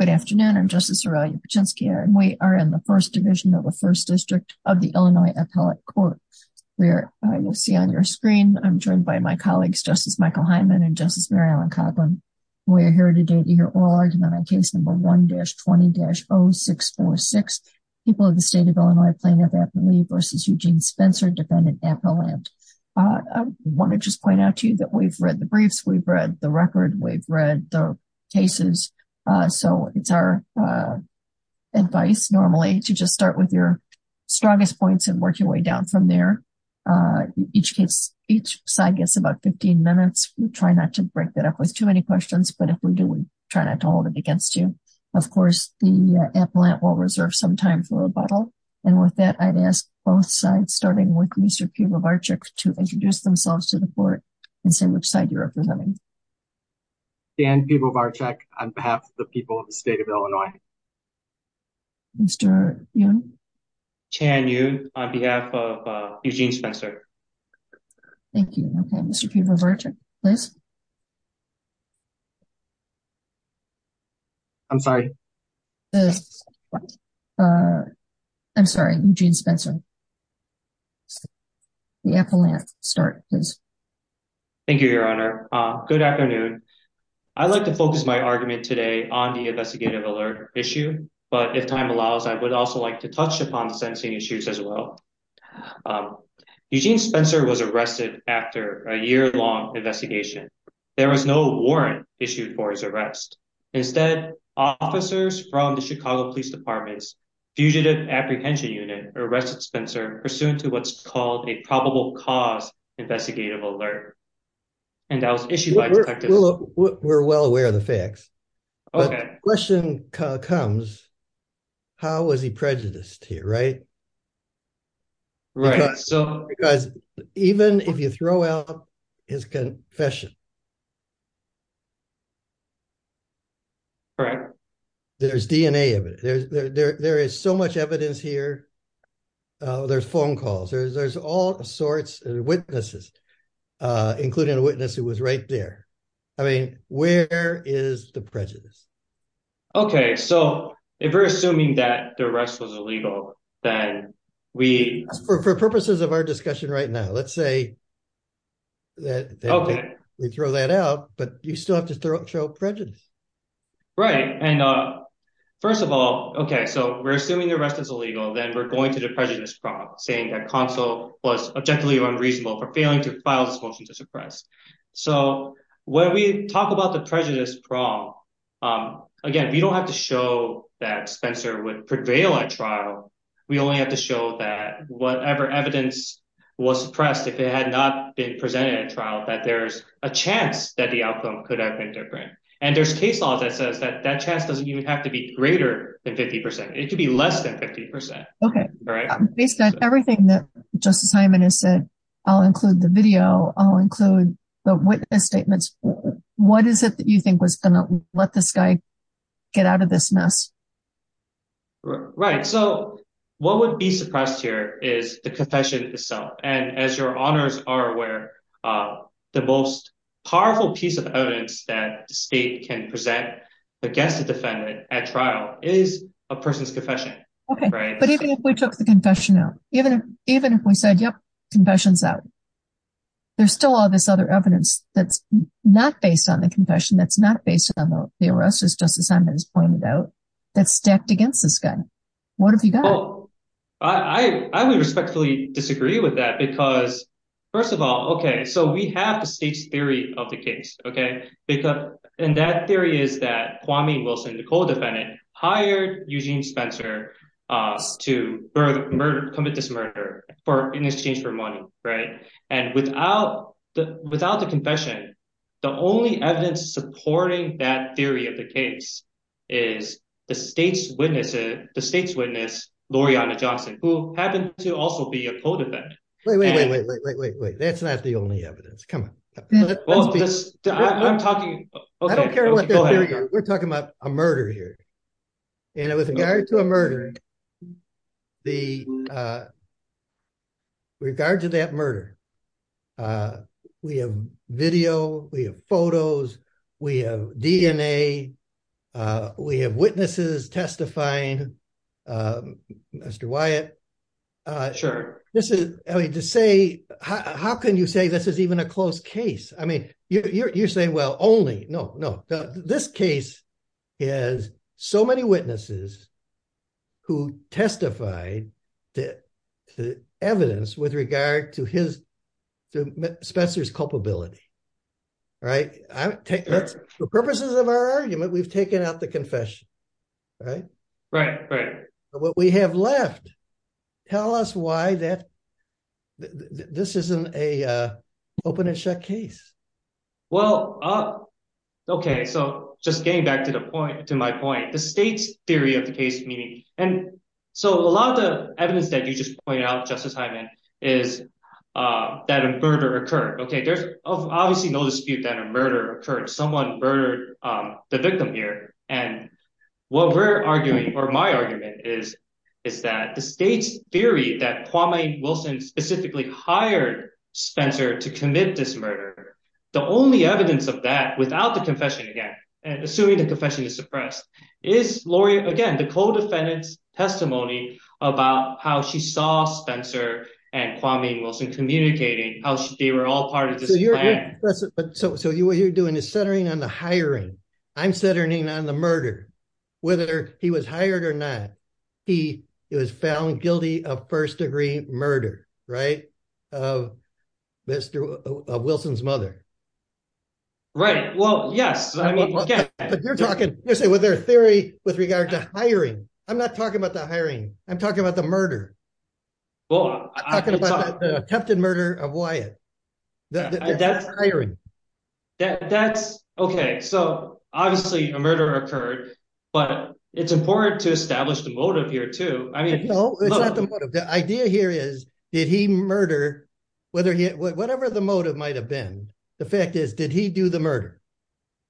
Good afternoon. I'm Justice Aurelia Paczynski, and we are in the First Division of the First District of the Illinois Appellate Court, where you'll see on your screen, I'm joined by my colleagues, Justice Michael Hyman and Justice Mary Ellen Coughlin. We're here today to hear oral argument on case number 1-20-0646, people of the state of Illinois, Plaintiff Appellee v. Eugene Spencer, defendant Appellant. I want to just point out to you that we've read the record, we've read the cases. So it's our advice, normally, to just start with your strongest points and work your way down from there. Each case, each side gets about 15 minutes. We try not to break that up with too many questions, but if we do, we try not to hold it against you. Of course, the appellant will reserve some time for rebuttal. And with that, I'd ask both sides, starting with Mr. Peter Barczyk, to introduce themselves to the court and say which side you're representing. Dan Peter Barczyk, on behalf of the people of the state of Illinois. Mr. Yun? Chan Yun, on behalf of Eugene Spencer. Thank you. Okay, Mr. Peter Barczyk, please. I'm sorry. I'm sorry, Eugene Spencer. The appellant, start, please. Thank you, Your Honor. Good afternoon. I'd like to focus my argument today on the investigative alert issue. But if time allows, I would also like to touch upon the sentencing issues as well. Eugene Spencer was arrested after a year-long investigation. There was no warrant issued for his arrest. Instead, officers from the Chicago Police Department's Fugitive Apprehension Unit arrested Spencer pursuant to what's called a probable cause investigative alert, and that was issued by detectives. We're well aware of the facts. But the question comes, how was he prejudiced here, right? Right. Because even if you throw out his confession... Correct. There's DNA evidence. There is so much evidence here. There's phone calls. There's all sorts of witnesses, including a witness who was right there. I mean, where is the prejudice? Okay, so if we're assuming that the arrest was illegal, then we... For purposes of our discussion right now, let's say that we throw that out, but you still have to show prejudice. Right. And first of all, okay, so we're assuming the arrest is illegal, then we're going to the prejudice prong, saying that Consul was objectively unreasonable for failing to file this motion to suppress. So when we talk about the prejudice prong, again, we don't have to show that Spencer would prevail at trial. We only have to show that whatever evidence was suppressed, if it had not been presented at trial, that there's a chance that the outcome could have been different. And there's case law that says that that chance doesn't even have to be greater than 50%. It could be less than 50%. Okay. Based on everything that Justice Hyman has said, I'll include the video, I'll include the witness statements. What is it that you think was going to let this guy get out of this mess? Right. So what would be suppressed here is the confession itself. And as your honors are aware, the most powerful piece of evidence that the state can present against a defendant at trial is a person's confession. Okay. But even if we took the confession out, even if we said, yep, confession's out, there's still all this other evidence that's not based on the confession, that's not based on the arrest, as Justice Hyman has pointed out, that's stacked against this guy. What have you got? I would respectfully disagree with that, because first of all, okay, so we have the state's theory of the case, okay? And that theory is that Kwame Wilson, Nicole defendant, hired Eugene Spencer to commit this murder in exchange for money, right? And without the confession, the only evidence supporting that theory of the case is the state's witness, Loreana Johnson, who happened to also be a codefendant. Wait, wait, wait, wait, wait, wait, wait, wait. That's not the only evidence. Come on. We're talking about a murder here. And with regard to a murder, the regard to that murder, we have video, we have photos, we have DNA, we have witnesses testifying, Mr. Wyatt. Sure. This is, I mean, to say, how can you say this is even a close case? I mean, you're saying, well, only, no, no. This case has so many witnesses, who testified to evidence with regard to Spencer's culpability, right? For purposes of our argument, we've taken out the confession, right? Right, right. But what we have left, tell us why this isn't an open and shut case. Well, okay, so just getting back to my point, the state's theory of the case, meaning, and so a lot of the evidence that you just pointed out, Justice Hyman, is that a murder occurred. Okay, there's obviously no dispute that a murder occurred. Someone murdered the victim here. And what we're arguing, or my argument is, is that the state's theory that Kwame Wilson specifically hired Spencer to commit this murder, the only evidence of that without the confession, again, assuming the confession is suppressed, is, Lori, again, the co-defendant's testimony about how she saw Spencer and Kwame Wilson communicating, how they were all part of this plan. So what you're doing is centering on the hiring. I'm centering on the murder, whether he was hired or not. He was found guilty of first-degree murder, right, of Wilson's mother. Right, well, yes. But you're talking, you're saying, was there a theory with regard to hiring? I'm not talking about the hiring. I'm talking about the murder. Well, I'm talking about the attempted murder of Wyatt. That's hiring. That's, okay, so obviously a murder occurred, but it's important to establish the motive here, too. I mean, no, the idea here is, did he murder, whether he, whatever the motive might have been, the fact is, did he do the murder?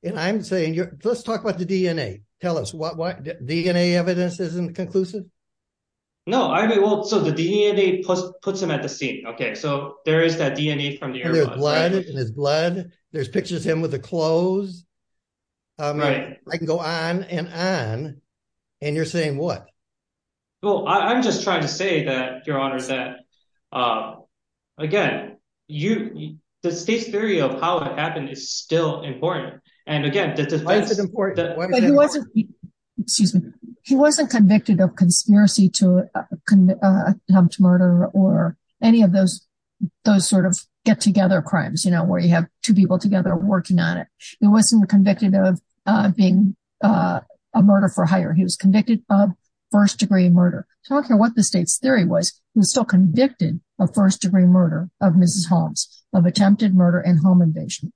And I'm saying, let's talk about the DNA. Tell us, DNA evidence isn't conclusive? No, I mean, well, so the DNA puts him at the scene. Okay, so there is that DNA from the airbus. There's blood in his blood. There's pictures of him with clothes. Right. I can go on and on, and you're saying what? Well, I'm just trying to say that, Your Honor, that, again, the state's theory of how it happened is still important. And again, the defense is important. But he wasn't, excuse me, he wasn't convicted of conspiracy to murder or any of those sort of get-together crimes, you know, where you have two people working on it. He wasn't convicted of being a murder for hire. He was convicted of first-degree murder. I don't care what the state's theory was, he was still convicted of first-degree murder of Mrs. Holmes, of attempted murder and home invasion.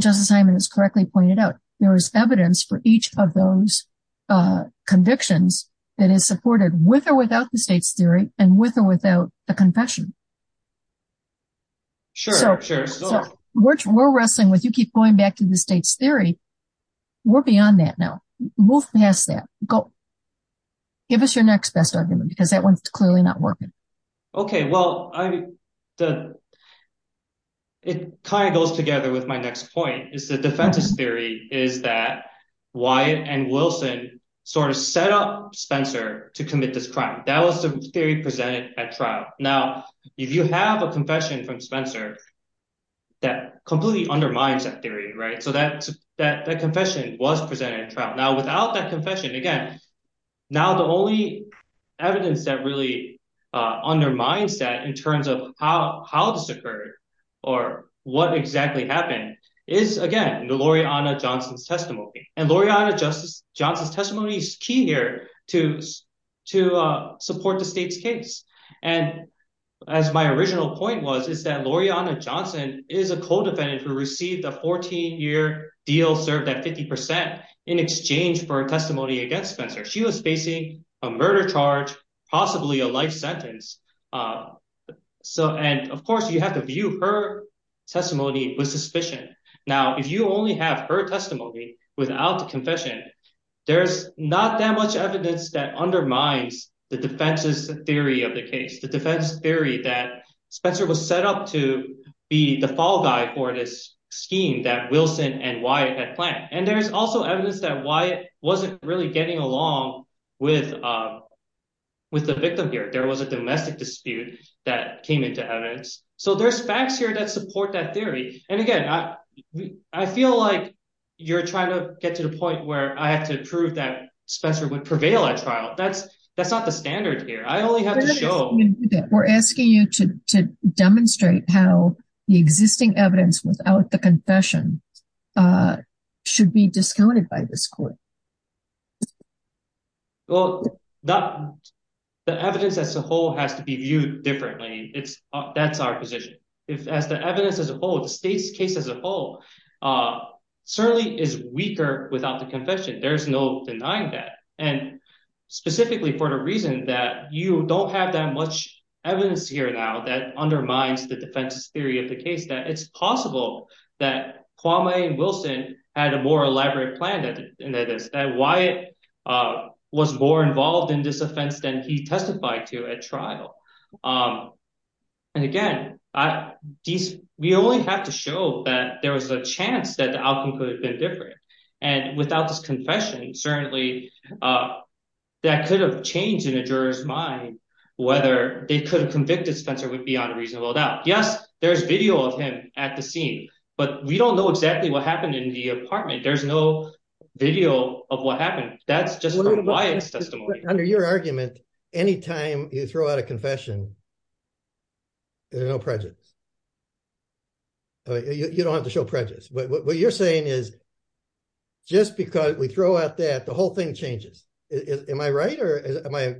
Justice Hyman has correctly pointed out, there is evidence for each of those convictions that is supported with or without the state's theory and with or without the confession. Sure, sure. So we're wrestling with, you keep going back to the state's theory. We're beyond that now. Move past that. Give us your next best argument, because that one's clearly not working. Okay, well, it kind of goes together with my next point, is the defense's theory is that Wyatt and Wilson sort of set up Spencer to commit this crime. That was the if you have a confession from Spencer, that completely undermines that theory, right? So that confession was presented in trial. Now, without that confession, again, now the only evidence that really undermines that in terms of how this occurred or what exactly happened is, again, the Loreanna Johnson's testimony. And Loreanna Johnson's testimony is key here to support the state's case. And as my original point was, is that Loreanna Johnson is a co-defendant who received a 14-year deal served at 50% in exchange for a testimony against Spencer. She was facing a murder charge, possibly a life sentence. And of course, you have to view her testimony with suspicion. Now, if you only have her testimony without the confession, there's not that much evidence that undermines the defense's theory of the case. The defense theory that Spencer was set up to be the fall guy for this scheme that Wilson and Wyatt had planned. And there's also evidence that Wyatt wasn't really getting along with the victim here. There was a domestic dispute that came into evidence. So there's facts here that support that theory. And again, I feel like you're trying to get to the point where I have to prove that Spencer would prevail at trial. That's not the standard here. I only have to show- We're asking you to demonstrate how the existing evidence without the confession should be discounted by this court. Well, the evidence as a whole has to be viewed differently. That's our position. As the evidence as a whole, the state's case as a whole certainly is weaker without the confession. There's no denying that. And specifically for the reason that you don't have that much evidence here now that undermines the defense's theory of the case, that it's possible that Kwame Wilson had a more elaborate plan than this, that Wyatt was more involved in this We only have to show that there was a chance that the outcome could have been different. And without this confession, certainly that could have changed in a juror's mind whether they could have convicted Spencer would be on a reasonable doubt. Yes, there's video of him at the scene, but we don't know exactly what happened in the apartment. There's no video of what happened. That's just from Wyatt's testimony. Under your argument, anytime you throw out a confession, there's no prejudice. You don't have to show prejudice. But what you're saying is, just because we throw out that, the whole thing changes. Am I right?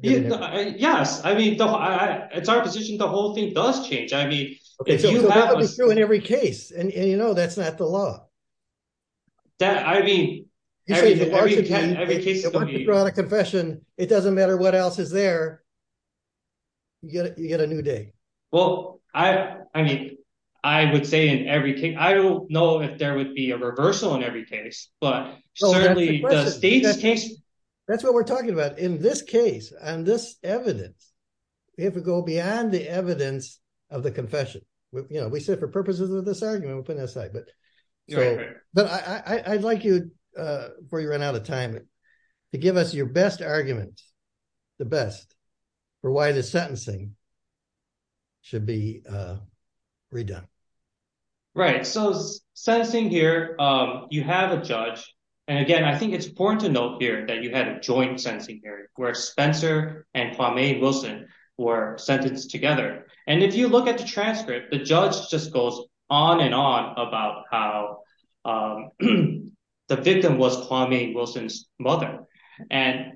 Yes, I mean, it's our position, the whole thing does change. I mean, it's true in every case. And you know, that's not the law. That, I mean, You say, if you throw out a confession, it doesn't matter what else is there, you get a new day. Well, I mean, I would say in every case, I don't know if there would be a reversal in every case, but certainly the state's case That's what we're talking about. In this case, and this evidence, we have to go beyond the evidence of the confession. You know, we said for purposes of this argument, we're putting it aside, but But I'd like you, before you run out of time, to give us your best argument, the best, for why the sentencing should be redone. Right. So sentencing here, you have a judge. And again, I think it's important to note here that you had a joint sentencing period where Spencer and Kwame Wilson were sentenced together. And if you look at the transcript, the judge just goes on and on about how the victim was Kwame Wilson's mother. And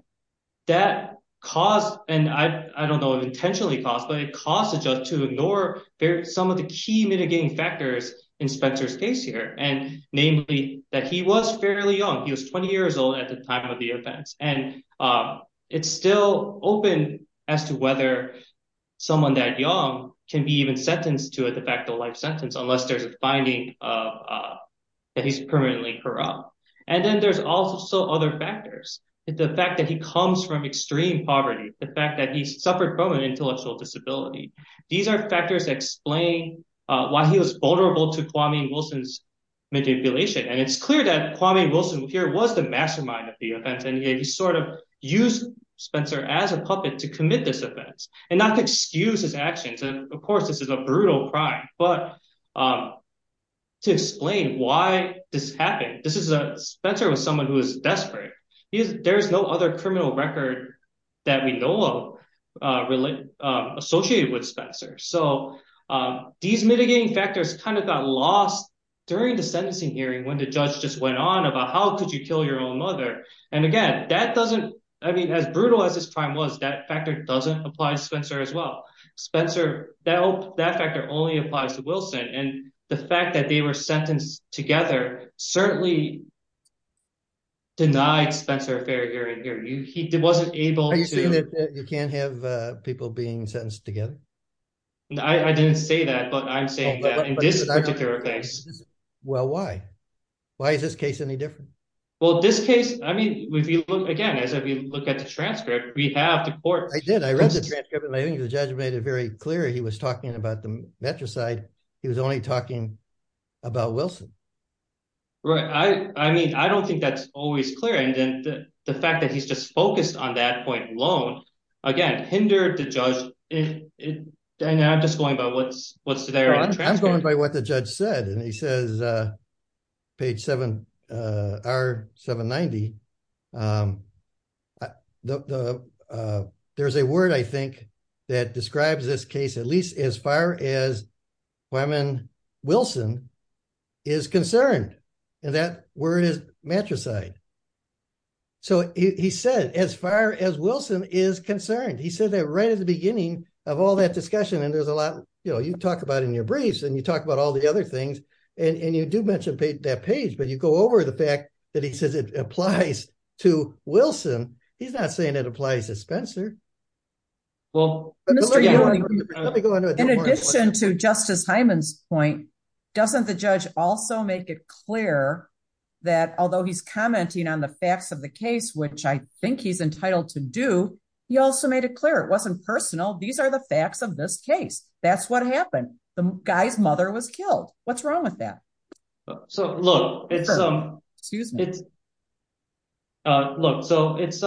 that caused, and I don't know if intentionally caused, but it caused the judge to ignore some of the key mitigating factors in Spencer's case here. And namely, that he was fairly young. He was 20 years old at the time of the offense. And it's still open as to whether someone that young can be even sentenced to a de facto life sentence, unless there's a finding that he's permanently corrupt. And then there's also other factors. The fact that he comes from extreme poverty, the fact that he suffered from an intellectual disability. These are factors that explain why he was vulnerable to Kwame Wilson's manipulation. And it's clear that Kwame Wilson here was the mastermind of the offense. And he sort of used Spencer as a puppet to commit this offense and not to excuse his actions. And of course, this is a brutal crime. But to explain why this happened, Spencer was someone who was desperate. There's no other criminal record that we know of associated with Spencer. So these mitigating factors kind of got lost during the sentencing hearing when the judge just went on about how could you kill your own mother? And again, that doesn't, I mean, as brutal as this crime was, that factor doesn't apply to Spencer as well. Spencer, that factor only applies to Wilson. And the fact that they were sentenced together certainly denied Spencer a fair hearing. He wasn't able to- Are you saying that you can't have people being sentenced together? I didn't say that, but I'm saying that in this particular case. Well, why? Why is this case any different? Well, this case, I mean, if you look again, as we look at the transcript, we have the court- I did. I read the transcript and I think the judge made it very clear he was talking about the matricide. He was only talking about Wilson. Right. I mean, I don't think that's always clear. And the fact that he's just focused on that point alone, again, hindered the judge. And I'm just going by what's there on the transcript. I'm going by what the judge said. And he says, page 7, R790, there's a word, I think, that describes this case, at least as far as Wyman Wilson is concerned. And that word is matricide. So he said, as far as Wilson is concerned, he said that right at the beginning of all that discussion. And there's a lot, you know, you talk about in your briefs and you talk about all the other things and you do mention that page, but you go over the fact that he says it applies to Wilson. He's not saying it applies to Spencer. Well, let me go into it. In addition to Justice Hyman's point, doesn't the judge also make it clear that although he's commenting on the facts of the case, which I think he's entitled to do, he also made it clear it wasn't personal. These are the facts of this case. That's what happened. The guy's mother was killed. What's wrong with that? So look, it's, look, so it's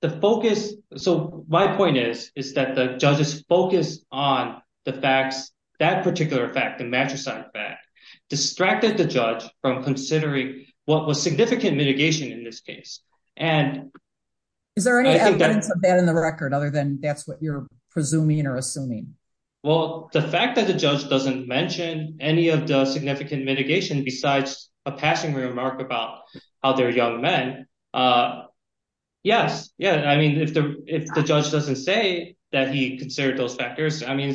the focus. So my point is, is that the judge's focus on the facts, that particular fact, the matricide fact, distracted the judge from considering what was significant mitigation in this case. And is there any evidence of that in the record, other than that's what you're presuming or assuming? Well, the fact that the judge doesn't mention any of the significant mitigation besides a passing remark about how they're young men, yes. Yeah. I mean, if the judge doesn't say that he considered those factors, I mean,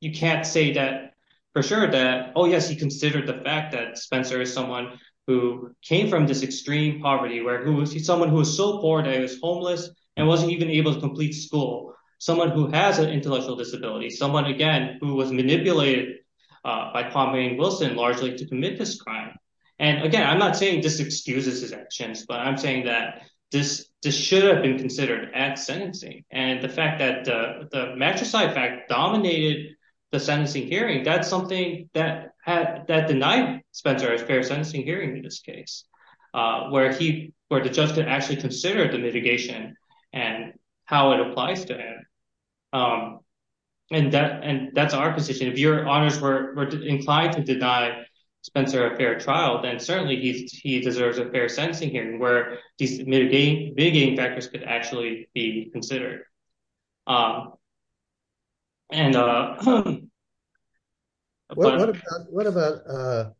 you can't say that for sure that, oh yes, he considered the fact that Spencer is someone who came from this extreme poverty, where he was someone who was so poor that he was homeless and wasn't even able to complete school. Someone who has an intellectual disability, someone again, who was manipulated by Paul Maynard Wilson largely to commit this crime. And again, I'm not saying this excuses his actions, but I'm saying that this should have been considered at sentencing. And the fact that the matricide fact dominated the sentencing hearing, that's something that denied Spencer a fair sentencing hearing in this case, where he, where the judge actually considered the mitigation and how it applies to him. And that, and that's our position. If your honors were inclined to deny Spencer a fair trial, then certainly he deserves a fair sentencing hearing where these mitigating factors could actually be considered. And what about,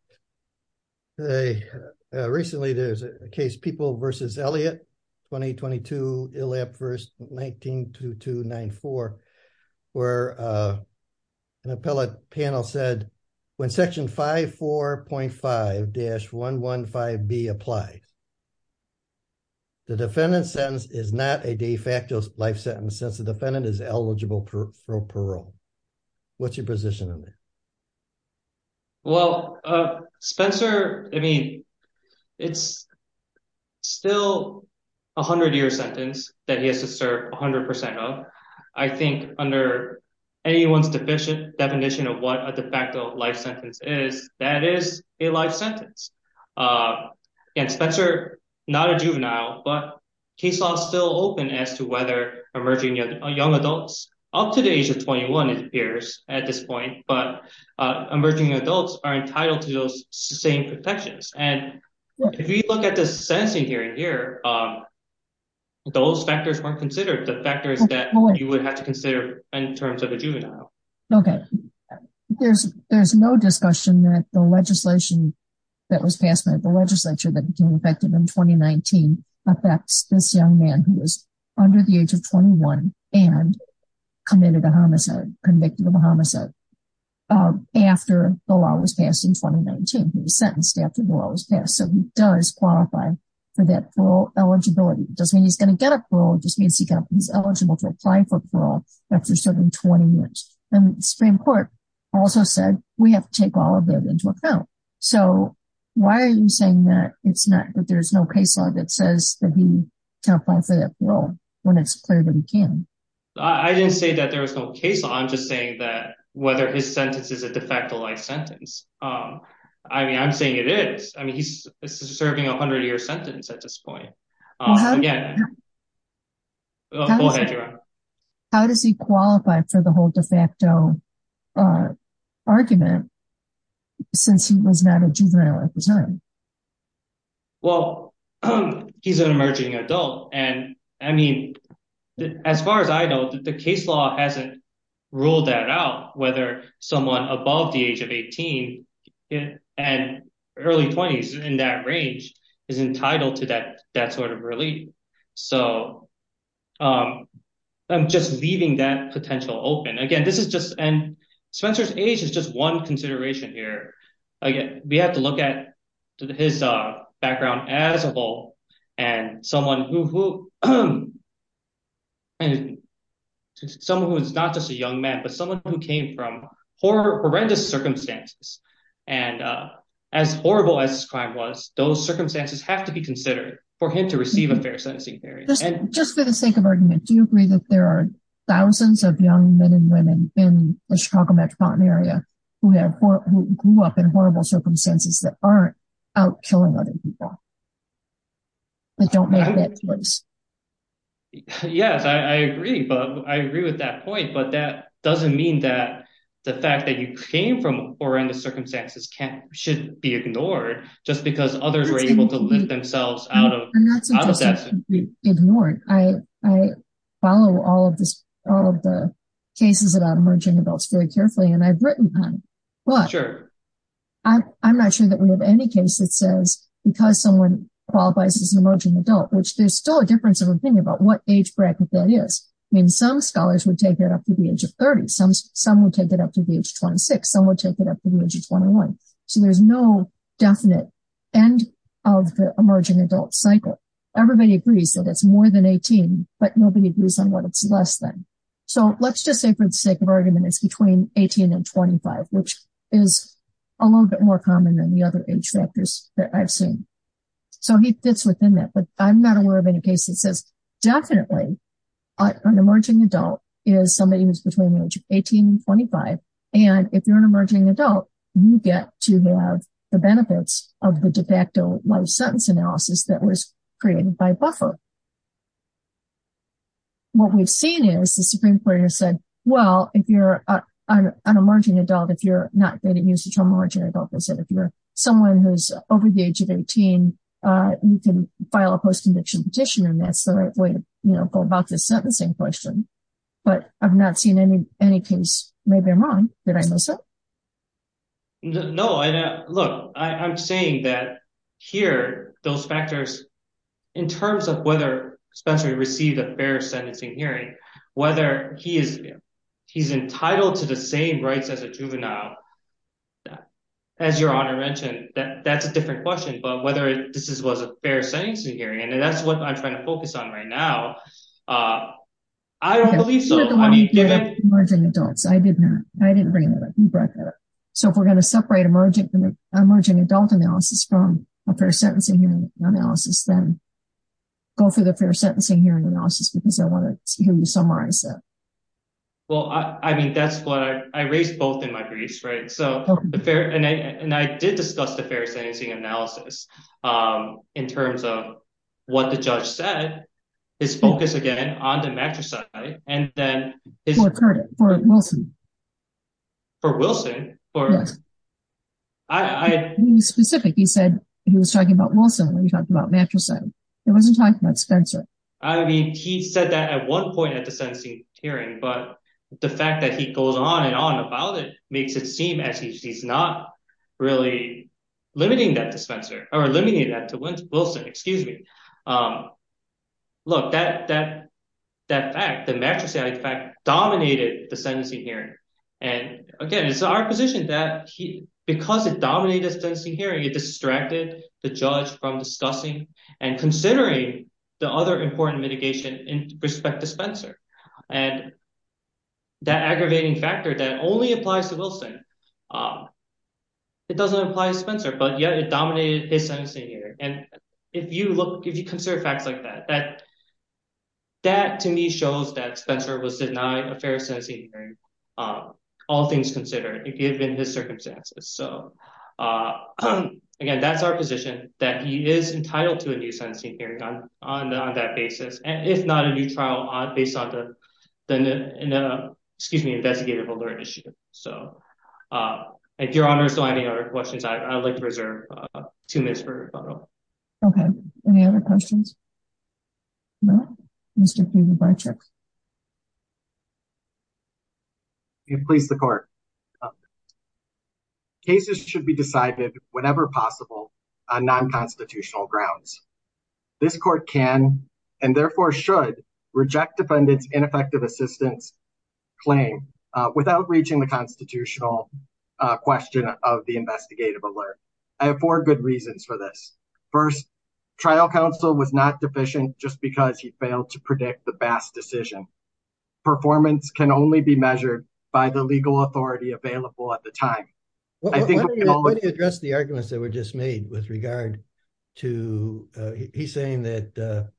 recently there's a case people versus Elliot, 2022 ILAP verse 192294, where an appellate panel said when section 54.5-115B applied, the defendant's sentence is not a de facto life sentence since the defendant is eligible for what's your position on that? Well, Spencer, I mean, it's still a hundred year sentence that he has to serve a hundred percent of. I think under anyone's deficient definition of what a de facto life sentence is, that is a life sentence. And Spencer, not a juvenile, but case law is still open as to whether emerging young adults up to the age of 21 appears at this point, but emerging adults are entitled to those same protections. And if you look at the sentencing hearing here, those factors weren't considered the factors that you would have to consider in terms of a juvenile. Okay. There's, there's no discussion that the legislation that was passed by the legislature that became effective in 2019 affects this young man who was under the age of 21 and committed a homicide, convicted of a homicide, after the law was passed in 2019. He was sentenced after the law was passed. So he does qualify for that parole eligibility. It doesn't mean he's going to get a parole, it just means he's eligible to apply for parole after serving 20 years. And Supreme Court also said we have to take all of that into account. So why are you saying that it's not, that there's no case law that says that he can apply for parole when it's clear that he can? I didn't say that there was no case law. I'm just saying that whether his sentence is a de facto life sentence. I mean, I'm saying it is. I mean, he's serving a hundred year sentence at this point. Again. How does he qualify for the whole de facto argument, since he was not a juvenile at the time? Well, he's an emerging adult. And I mean, as far as I know, the case law hasn't ruled that out, whether someone above the age of 18, and early 20s in that range, is entitled to that sort of relief. So I'm just leaving that potential open. Again, this is just, and Spencer's age is just one consideration here. Again, we have to look at his background as a whole, and someone who, someone who is not just a young man, but someone who came from horrendous circumstances. And as horrible as this crime was, those circumstances have to be considered for him to receive a fair sentencing period. And just for the sake of argument, do you agree that there are thousands of young men and women in the Chicago metropolitan area who have, who grew up in horrible circumstances that aren't out killing other people, that don't make that choice? Yes, I agree. But I agree with that point. But that you came from horrendous circumstances can't, shouldn't be ignored, just because others were able to lift themselves out of, out of that. Ignored, I, I follow all of this, all of the cases about emerging adults very carefully. And I've written on, but I'm not sure that we have any case that says, because someone qualifies as an emerging adult, which there's still a difference of opinion about what age bracket that is. I mean, some scholars would take it up to the age of 30. Some would take it up to the age of 26. Some would take it up to the age of 21. So there's no definite end of the emerging adult cycle. Everybody agrees that it's more than 18, but nobody agrees on what it's less than. So let's just say for the sake of argument, it's between 18 and 25, which is a little bit more common than the other age factors that I've seen. So he fits within that, but I'm not aware of any case that says definitely an emerging adult is somebody who's between the age of 18 and 25. And if you're an emerging adult, you get to have the benefits of the de facto life sentence analysis that was created by Buffer. What we've seen is the Supreme Court has said, well, if you're an emerging adult, if you're not going to use the term emerging adult, they said, if you're someone who's over the age of 18, you can file a post-conviction petition. And that's the right way to go about the sentencing question, but I've not seen any case. Maybe I'm wrong. Did I miss it? No, look, I'm saying that here, those factors, in terms of whether Spencer received a fair sentencing hearing, whether he's entitled to the same rights as a juvenile, as your honor mentioned, that's a different question, but whether this was a fair sentencing hearing. And that's what I'm focused on right now. I don't believe so. I didn't bring that up. You brought that up. So if we're going to separate emerging adult analysis from a fair sentencing hearing analysis, then go for the fair sentencing hearing analysis, because I want to hear you summarize that. Well, I mean, that's what I raised both in my briefs, right? And I did discuss the fair set, his focus, again, on the matricide, and then- For Wilson. For Wilson? I mean, specific. He said he was talking about Wilson when he talked about matricide. He wasn't talking about Spencer. I mean, he said that at one point at the sentencing hearing, but the fact that he goes on and on about it makes it seem as if he's not really limiting that to Spencer, or eliminating that to Wilson, excuse me. Look, that fact, the matricide fact, dominated the sentencing hearing. And again, it's our position that because it dominated the sentencing hearing, it distracted the judge from discussing and considering the other important mitigation in respect to Spencer. And that aggravating factor that only applies to Wilson, it doesn't apply to Spencer, but yet it dominated his sentencing hearing. And if you look, if you consider facts like that, that to me shows that Spencer was denied a fair sentencing hearing, all things considered, given his circumstances. So again, that's our position, that he is entitled to a new sentencing hearing on that basis, and if not, a new trial based on the investigative alert issue. So, if your honor still have any other questions, I'd like to reserve two minutes for rebuttal. Okay, any other questions? No? Mr. Kiefer-Bartrick. Please, the court. Cases should be decided whenever possible on non-constitutional grounds. This court can, and therefore should, reject defendant's ineffective assistance claim, without reaching the constitutional question of the investigative alert. I have four good reasons for this. First, trial counsel was not deficient just because he failed to predict the best decision. Performance can only be measured by the legal authority available at the time. Why don't you address the arguments that were just made with regard to, he's saying that,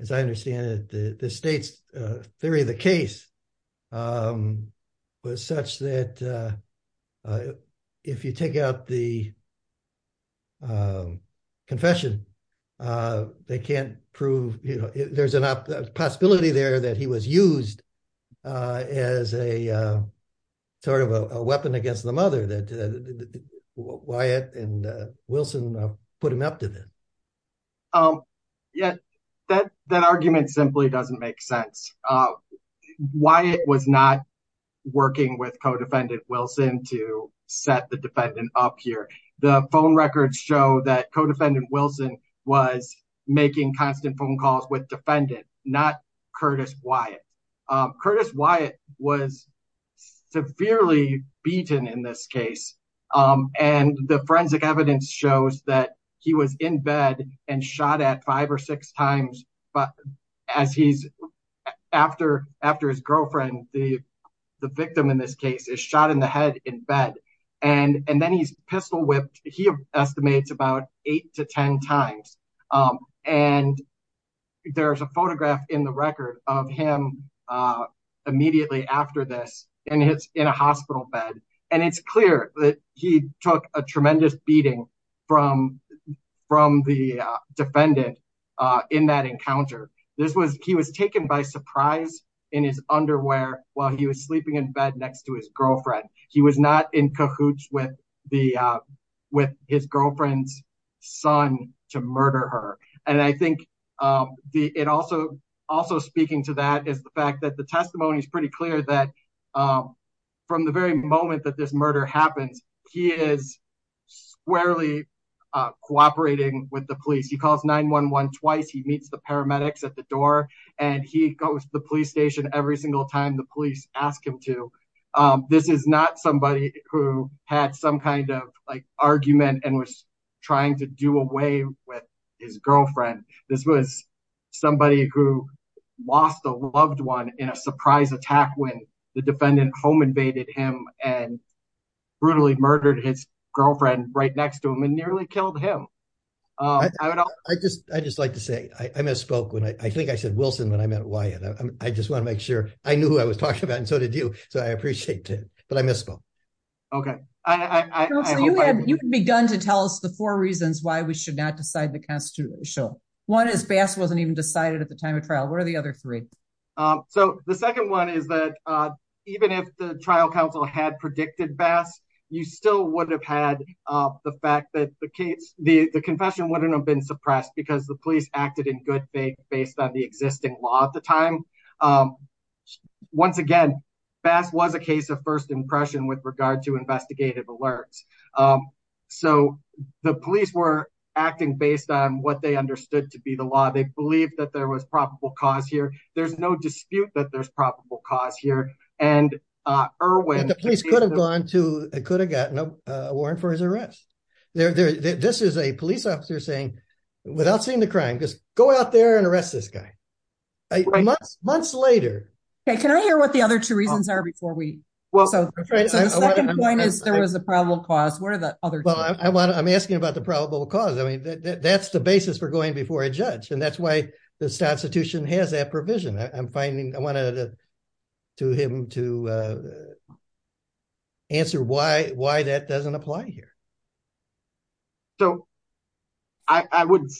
as I understand it, the state's theory of the case was such that if you take out the confession, they can't prove, you know, there's enough possibility there that he was used as a sort of a weapon against the mother, that Wyatt and Wilson put him up to this. Um, yeah, that argument simply doesn't make sense. Wyatt was not working with co-defendant Wilson to set the defendant up here. The phone records show that co-defendant Wilson was making constant phone calls with defendant, not Curtis Wyatt. Curtis Wyatt was severely beaten in this case. And the forensic evidence shows that he was in bed and shot at five or six times. But as he's, after his girlfriend, the victim in this case is shot in the head in bed. And then he's pistol whipped, he estimates about eight to 10 times. And there's a photograph in record of him immediately after this and it's in a hospital bed. And it's clear that he took a tremendous beating from the defendant in that encounter. He was taken by surprise in his underwear while he was sleeping in bed next to his girlfriend. He was not in cahoots with his girlfriend's son to murder her. And I think it also, also speaking to that is the fact that the testimony is pretty clear that from the very moment that this murder happens, he is squarely cooperating with the police. He calls 9-1-1 twice. He meets the paramedics at the door and he goes to the police station every single time the police ask him to. This is not somebody who had some kind of like argument and was trying to do away with his girlfriend. This was somebody who lost a loved one in a surprise attack when the defendant home invaded him and brutally murdered his girlfriend right next to him and nearly killed him. I just like to say I misspoke when I think I said Wilson when I meant Wyatt. I just want to make sure I knew who I was talking about and so I appreciate it, but I misspoke. Okay. You had begun to tell us the four reasons why we should not decide the constitution. One is Bass wasn't even decided at the time of trial. What are the other three? So the second one is that even if the trial counsel had predicted Bass, you still would have had the fact that the case, the confession wouldn't have been suppressed because the police acted in good faith based on the existing law at the time. Once again, Bass was a case of first impression with regard to investigative alerts. So the police were acting based on what they understood to be the law. They believed that there was probable cause here. There's no dispute that there's probable cause here and Irwin... The police could have gone to, could have gotten a for his arrest. This is a police officer saying, without seeing the crime, just go out there and arrest this guy. Months later. Okay. Can I hear what the other two reasons are before we... So the second point is there was a probable cause. What are the other two? Well, I'm asking about the probable cause. I mean, that's the basis for going before a judge and that's why this constitution has that provision. I'm finding... I wanted to him to answer why that doesn't apply here. So I would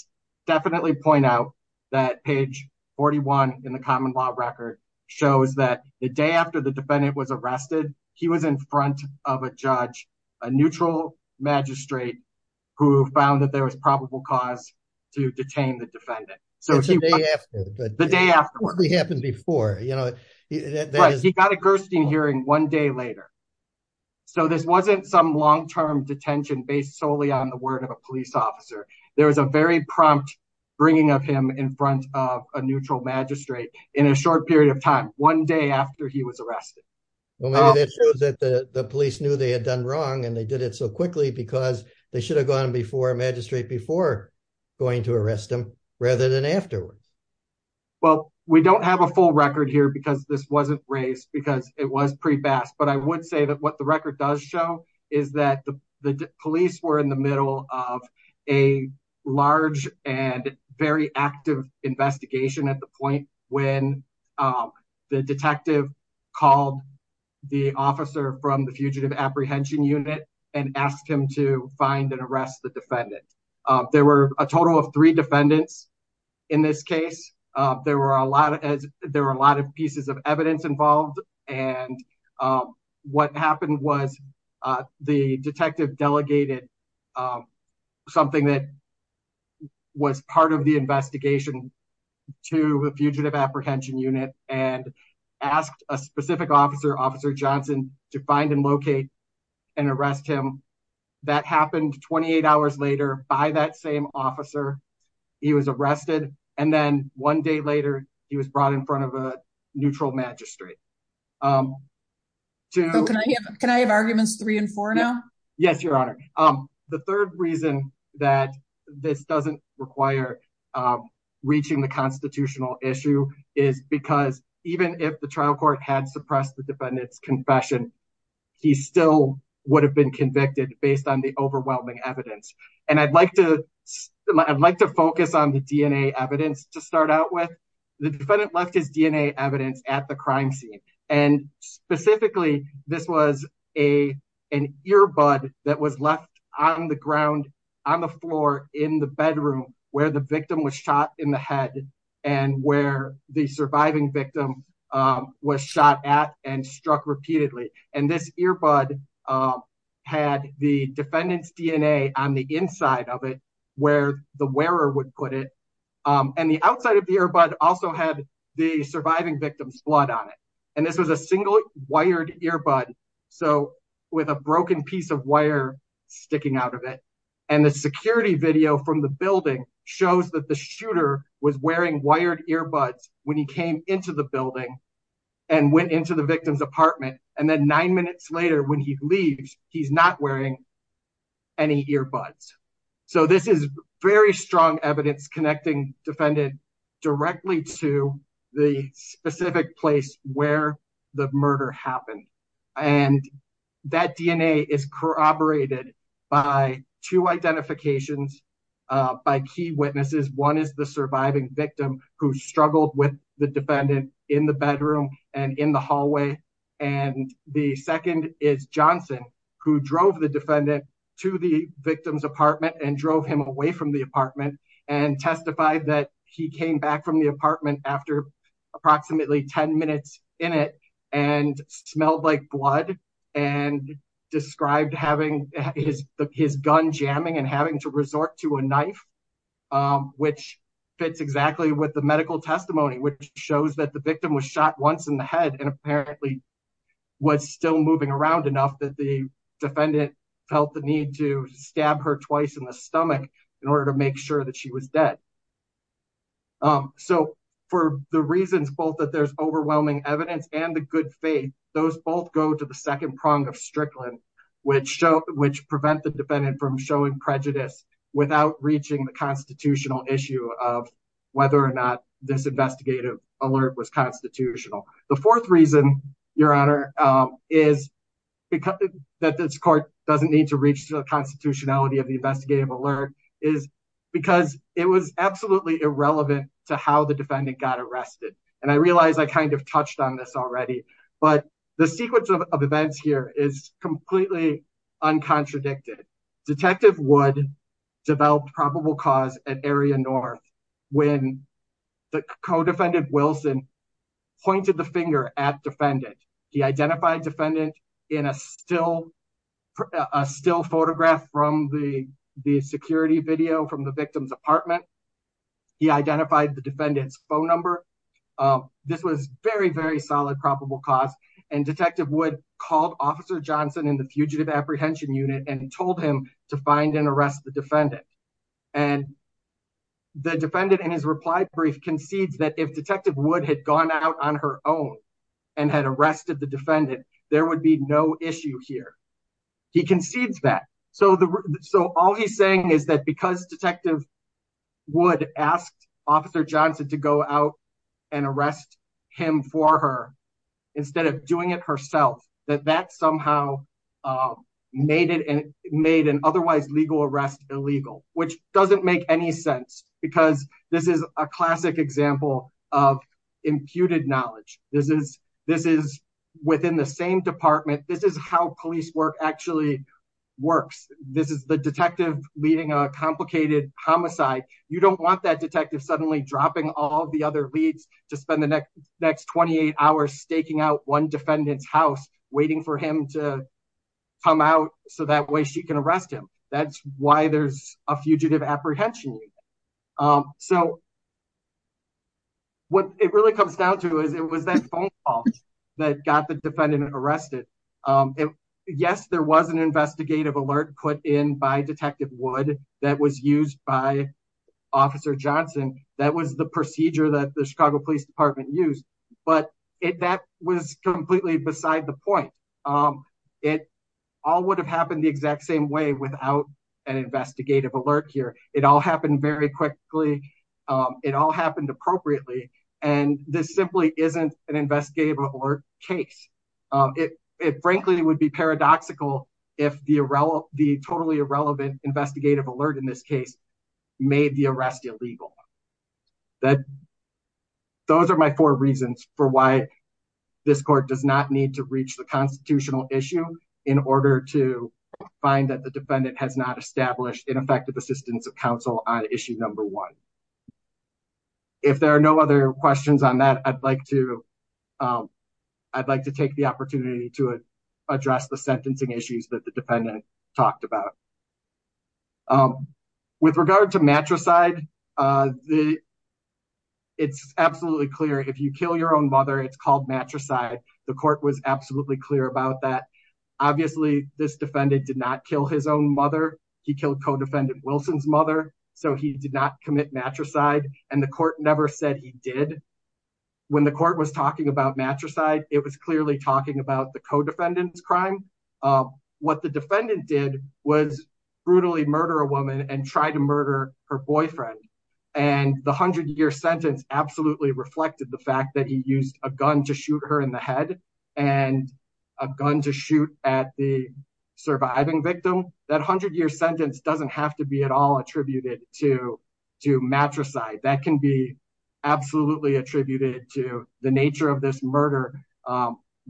definitely point out that page 41 in the common law record shows that the day after the defendant was arrested, he was in front of a judge, a neutral magistrate who found that there was probable cause to detain the defendant. So the day after... It happened before. You know... He got a Gerstein hearing one day later. So this wasn't some long-term detention based solely on the word of a police officer. There was a very prompt bringing of him in front of a neutral magistrate in a short period of time, one day after he was arrested. Well, maybe that shows that the police knew they had done wrong and they did it so quickly because they should have gone before a magistrate before going to arrest him rather than afterward. Well, we don't have a full record here because this wasn't raised because it was pre-passed, but I would say that what the record does show is that the police were in the middle of a large and very active investigation at the point when the detective called the officer from the fugitive apprehension unit and asked him to find and arrest the defendant. There were a total of three defendants in this case. There were a lot of pieces of evidence involved and what happened was the detective delegated something that was part of the investigation to the fugitive apprehension unit and asked a specific officer, Officer Johnson, to find and locate and arrest him. That happened 28 hours later by that same officer. He was arrested and then one day later, he was brought in front of a neutral magistrate. Can I have arguments three and four now? Yes, your honor. The third reason that this doesn't require reaching the constitutional issue is because even if the trial court had suppressed the defendant's confession, he still would have been convicted based on the overwhelming evidence. I'd like to focus on the DNA evidence to start out with. The defendant left his DNA evidence at the crime scene and specifically, this was an earbud that was left on the ground on the floor in the bedroom where the victim was shot in the head and where the surviving victim was shot at and struck repeatedly. This earbud had the defendant's DNA on the inside of it where the wearer would put it and the outside of the earbud also had the surviving victim's blood on it. This was a single wired earbud with a broken piece of wire sticking out of it and the security video from the building shows that the shooter was wearing wired earbuds when he came into the building and went into the victim's apartment and then nine minutes later when he leaves, he's not wearing any earbuds. So this is very strong evidence connecting defendant directly to the specific place where the murder happened and that DNA is corroborated by two identifications by key and in the hallway and the second is Johnson who drove the defendant to the victim's apartment and drove him away from the apartment and testified that he came back from the apartment after approximately 10 minutes in it and smelled like blood and described having his gun jamming and having to resort to a knife which fits exactly with the medical testimony which shows that the and apparently was still moving around enough that the defendant felt the need to stab her twice in the stomach in order to make sure that she was dead. So for the reasons both that there's overwhelming evidence and the good faith, those both go to the second prong of Strickland which show which prevent the defendant from showing prejudice without reaching the constitutional issue of whether or not this the fourth reason your honor is because that this court doesn't need to reach the constitutionality of the investigative alert is because it was absolutely irrelevant to how the defendant got arrested and I realized I kind of touched on this already but the sequence of events here is completely uncontradicted. Detective Wood developed probable cause at area north when the co-defendant Wilson pointed the finger at defendant. He identified defendant in a still photograph from the security video from the victim's apartment. He identified the defendant's phone number. This was very very solid probable cause and Detective Wood called Officer Johnson in the Fugitive Apprehension Unit and told him to find and arrest the defendant and the defendant in his reply brief concedes that if Detective Wood had gone out on her own and had arrested the defendant there would be no issue here. He concedes that so all he's saying is that because Detective Wood asked Officer Johnson to go out and arrest him for her instead of doing it herself that that somehow made an otherwise legal arrest illegal which doesn't any sense because this is a classic example of imputed knowledge. This is within the same department. This is how police work actually works. This is the detective leading a complicated homicide. You don't want that detective suddenly dropping all the other leads to spend the next 28 hours staking out one defendant's house waiting for him to come out so that way she can arrest him. That's why there's a Fugitive Apprehension Unit. So what it really comes down to is it was that phone call that got the defendant arrested. Yes there was an investigative alert put in by Detective Wood that was used by Officer Johnson. That was the procedure that the Chicago Police Department used but that was completely beside the point. It all would have happened the exact same way without an investigative alert here. It all happened very quickly. It all happened appropriately and this simply isn't an investigative alert case. It frankly would be paradoxical if the totally irrelevant investigative alert in this case made the arrest illegal. Those are my four reasons for why this court does not need to find that the defendant has not established ineffective assistance of counsel on issue number one. If there are no other questions on that I'd like to take the opportunity to address the sentencing issues that the defendant talked about. With regard to matricide, it's absolutely clear if you kill your own mother it's called matricide. The court was absolutely clear about that. Obviously this defendant did not kill his own mother. He killed co-defendant Wilson's mother so he did not commit matricide and the court never said he did. When the court was talking about matricide it was clearly talking about the co-defendant's crime. What the defendant did was brutally murder a woman and try to murder her boyfriend and the hundred-year sentence absolutely reflected the fact that he used a gun to shoot her in the head and a gun to shoot at the surviving victim. That hundred-year sentence doesn't have to be at all attributed to matricide. That can be absolutely attributed to the nature of this murder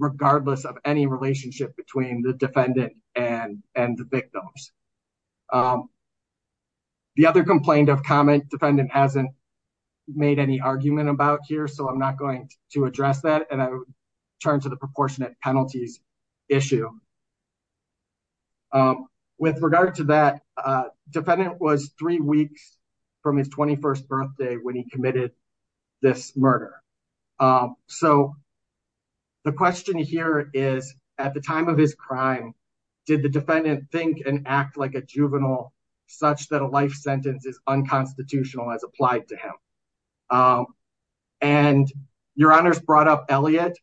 regardless of any relationship between the defendant and the victims. The other complaint of comment defendant hasn't made any argument about here so I'm not going to address that and turn to the proportionate penalties issue. With regard to that defendant was three weeks from his 21st birthday when he committed this murder. The question here is at the time of his crime did the defendant think and act like a juvenile such that a life sentence is brought up? Elliot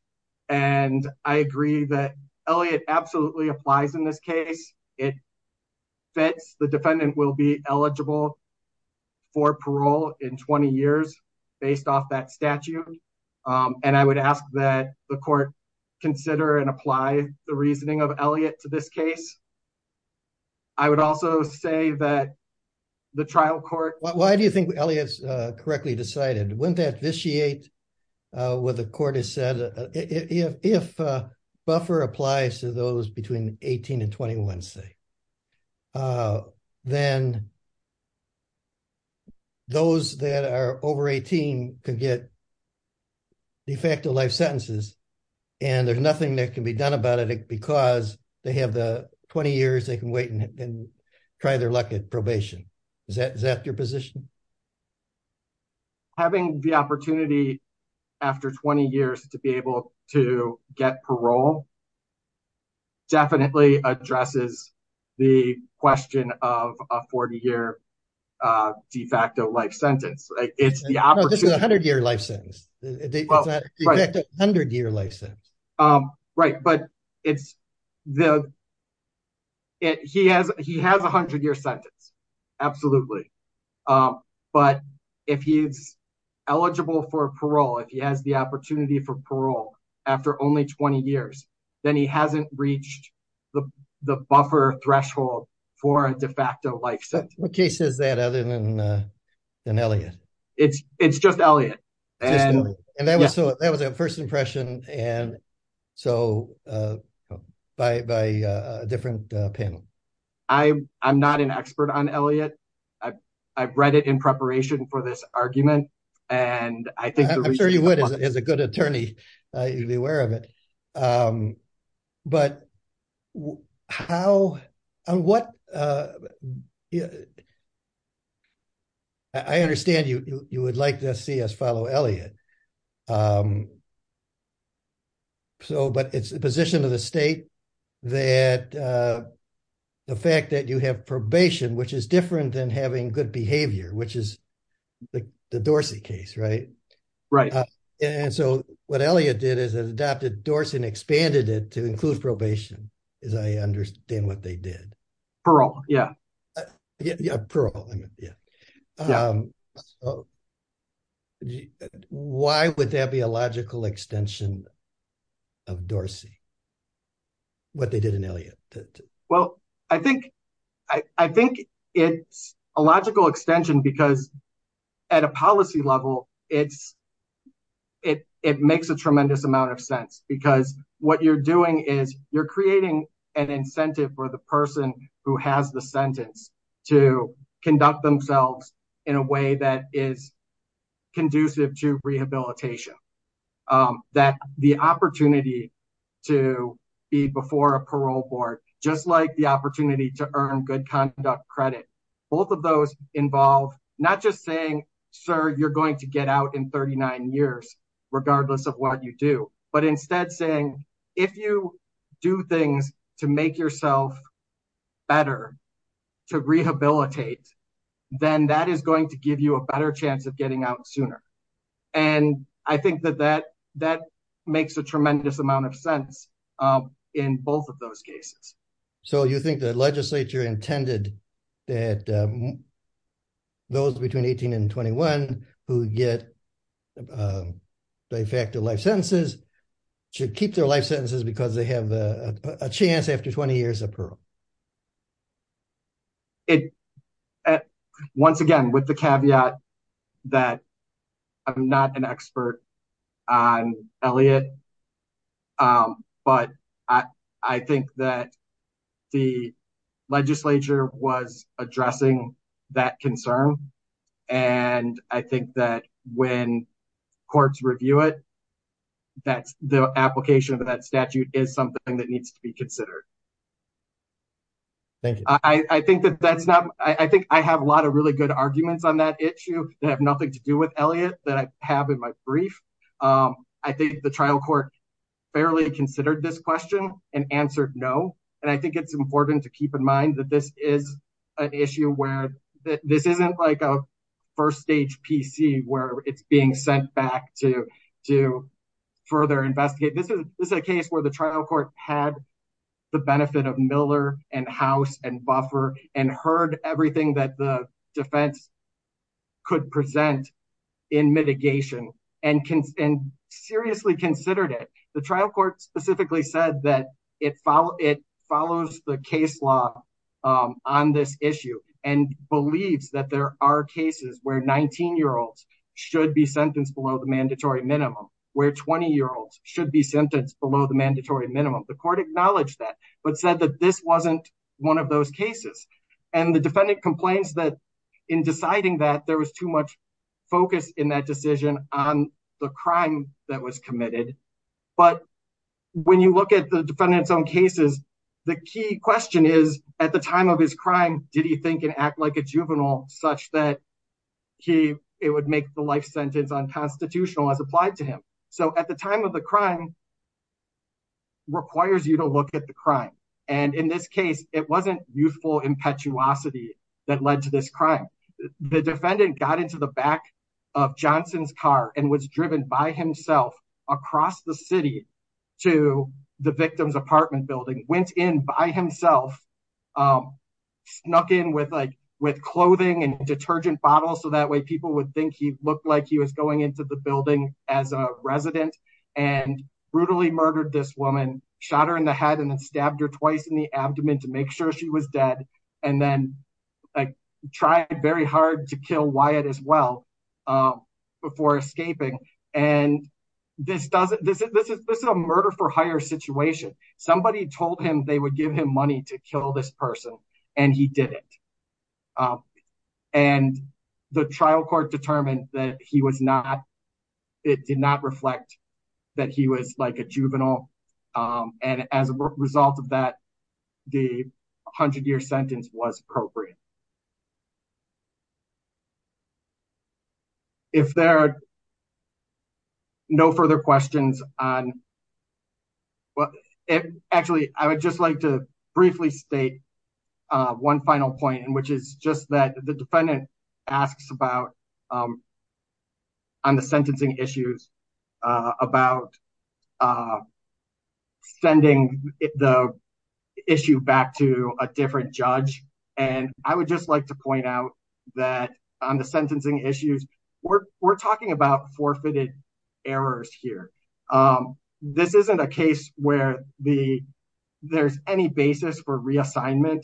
and I agree that Elliot absolutely applies in this case. It fits the defendant will be eligible for parole in 20 years based off that statute and I would ask that the court consider and apply the reasoning of Elliot to this case. I would also say that the trial court why do you think Elliot's correctly decided wouldn't that vitiate what the court has said if buffer applies to those between 18 and 21 say then those that are over 18 could get de facto life sentences and there's nothing that can be done about it because they have the 20 years they can wait and try their luck at probation. Is that your position? Having the opportunity after 20 years to be able to get parole definitely addresses the question of a 40-year de facto life sentence. It's the opportunity. This is a 100-year life sentence. That's a 100-year life sentence. Right but it's the it he has he has a 100-year sentence absolutely but if he's eligible for parole if he has the opportunity for parole after only 20 years then he hasn't reached the the buffer threshold for a de facto life sentence. What case is that in Elliot? It's just Elliot and that was so that was a first impression and so by a different panel. I'm not an expert on Elliot. I've read it in preparation for this argument and I think I'm a good attorney. You'll be aware of it. I understand you would like to see us follow Elliot but it's the position of the state that the fact that you have probation which is different than good behavior which is the Dorsey case. What Elliot did is adopted Dorsey and expanded it to include probation as I understand what they did. Why would that be a logical extension of Dorsey what they did in Elliot? Well I think I think it's a logical extension because at a policy level it's it it makes a tremendous amount of sense because what you're doing is you're creating an incentive for the person who has the sentence to conduct themselves in a way that is conducive to rehabilitation. That the opportunity to be before a parole board just like the opportunity to earn good conduct credit. Both of those involve not just saying sir you're going to get out in 39 years regardless of what you do but instead saying if you do things to make yourself better to rehabilitate then that is going to give you a better chance of getting out sooner and I think that that that makes a tremendous amount of sense in both of those cases. So you think the legislature intended that those between 18 and 21 who get de facto life sentences should keep their life sentences because they have a chance after 20 years of parole? It once again with the caveat that I'm not an expert on Elliot but I think that the legislature was addressing that concern and I think that when courts review it that's the application of that statute is something that needs to be considered. Thank you. I think that that's not I think I have a lot of really good arguments on that issue that have nothing to do with Elliot that I have in my brief. I think the trial court fairly considered this question and answered no and I think it's important to keep in mind that this is an issue where this isn't like a first stage PC where it's being sent back to further investigate. This is a case where the trial court had the benefit of Miller and House and Buffer and heard everything that the defense could present in mitigation and seriously considered it. The trial court specifically said that it follows the case law on this issue and believes that there are cases where 19-year-olds should be sentenced below the mandatory minimum where 20-year-olds should be sentenced below the mandatory minimum. The court acknowledged that but said that this wasn't one of those cases and the defendant complains that in deciding that there was too much focus in that decision on the crime that was committed. But when you look at the defendant's own cases the key question is at the time of his crime did he think and act like a juvenile such that he it would make the life sentence unconstitutional as applied to him. So at the time of the crime requires you to look at the crime and in this case it wasn't youthful impetuosity that led to this crime. The defendant got into the back of Johnson's car and was driven by himself across the city to the victim's apartment building, went in by himself, snuck in with like with clothing and detergent bottles so that way people would think he looked like he was going into the building as a resident and brutally this woman shot her in the head and then stabbed her twice in the abdomen to make sure she was dead and then like tried very hard to kill Wyatt as well before escaping and this doesn't this is this is a murder for hire situation. Somebody told him they would give him money to kill this person and he didn't and the trial court determined that he was not it did not reflect that he was like a juvenile and as a result of that the 100 year sentence was appropriate. If there are no further questions on well actually I would just like to briefly state one final point which is just that the defendant asks about on the sentencing issues about sending the issue back to a different judge and I would just like to point out that on the sentencing issues we're talking about forfeited errors here. This isn't a case where the there's any basis for reassignment.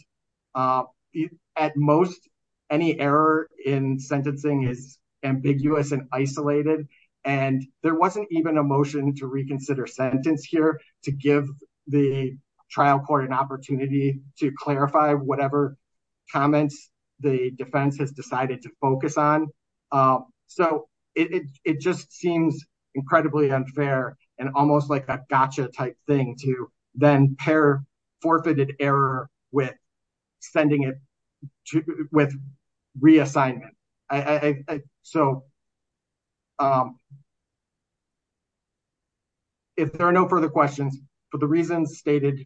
At most any error in sentencing is ambiguous and isolated and there wasn't even a motion to reconsider sentence here to give the trial court an opportunity to clarify whatever comments the defense has decided to focus on. So it just seems incredibly unfair and almost like a gotcha type thing to then pair forfeited error with it with reassignment. So if there are no further questions for the reasons stated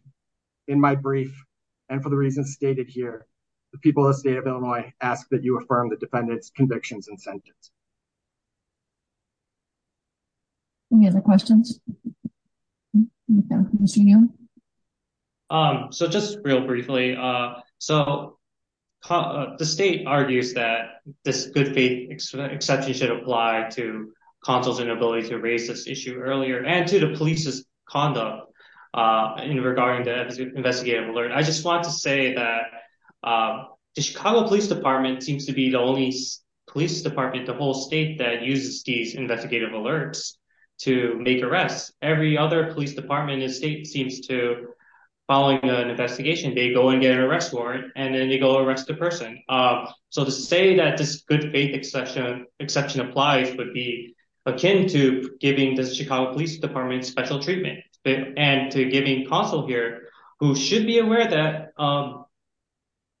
in my brief and for the reasons stated here the people of the state of Illinois ask that you affirm the defendant's convictions and sentence. Any other questions? So just real briefly so the state argues that this good faith exception should apply to counsel's inability to raise this issue earlier and to the police's conduct in regarding the investigative alert. I just want to say that the Chicago Police Department seems to be the only police department in the whole state that uses these investigative alerts to make arrests. Every other police department in the state seems to following an investigation they go and get an arrest warrant and then they go arrest the person. So to say that this good faith exception applies would be akin to giving the Chicago Police Department special treatment and to giving counsel here who should be aware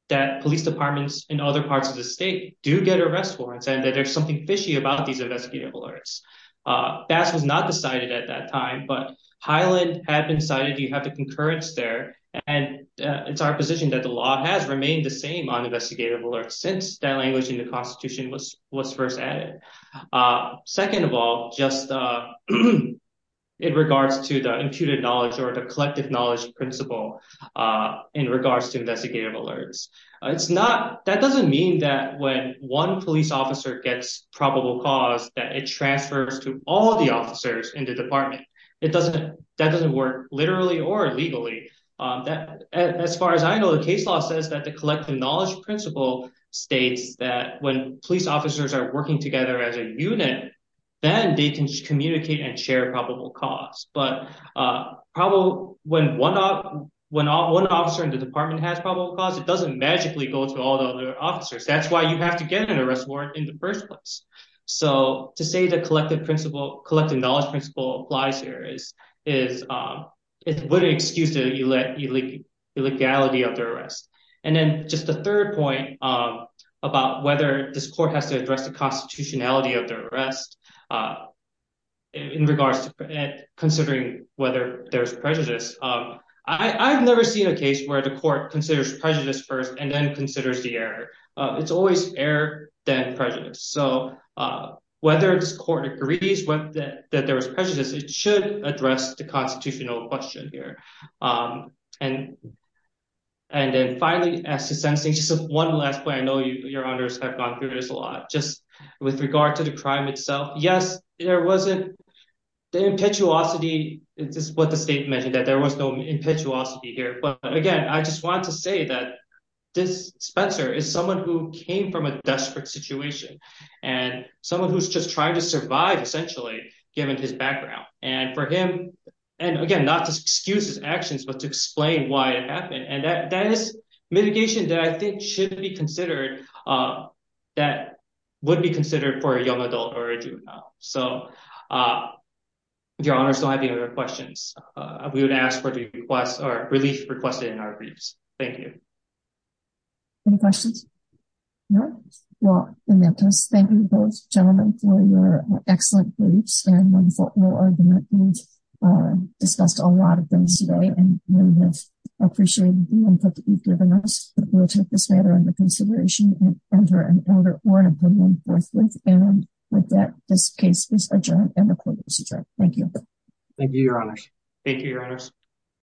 that police departments in other parts of the state do get arrest warrants and that there's something fishy about these investigative alerts. That was not decided at that time but Highland had been cited you have the concurrence there and it's our position that the law has remained the same on investigative alerts since that language in the constitution was was first added. Second of all just in regards to the imputed knowledge or the collective knowledge principle in regards to investigative alerts it's not that doesn't mean that when one police officer gets probable cause that it transfers to all the officers in the department it doesn't that doesn't work literally or legally. As far as I know the case law says that the collective knowledge principle states that when police officers are working together as a unit then they can communicate and share probable cause but probably when one officer in the department has probable cause it doesn't magically go to all the other officers that's why you have to get an arrest warrant in the first place. So to say the collective knowledge principle applies here is it would excuse the illegality of the arrest. And then just the third point about whether this court has to address the whether there's prejudice. I've never seen a case where the court considers prejudice first and then considers the error. It's always error then prejudice. So whether this court agrees that there was prejudice it should address the constitutional question here. And then finally as to sensing just one last point I know you your honors have gone through this a lot just with regard to the crime itself. Yes there wasn't the impetuosity this is what the state mentioned that there was no impetuosity here but again I just want to say that this Spencer is someone who came from a desperate situation and someone who's just trying to survive essentially given his background and for him and again not to excuse his actions but to explain why it happened and that is mitigation that I think should be considered that would be considered for a young adult or a juvenile. So if your honors don't have any other questions we would ask for the request or relief requested in our briefs. Thank you. Any questions? No? Well in that case thank you both gentlemen for your excellent briefs and wonderful oral argument. We've discussed a lot of things today and really have appreciated the input that you've given us but we'll take this matter under consideration and enter an order or an opinion forthwith and with that this case is adjourned and the court is adjourned. Thank you. Thank you your honors. Thank you your honors.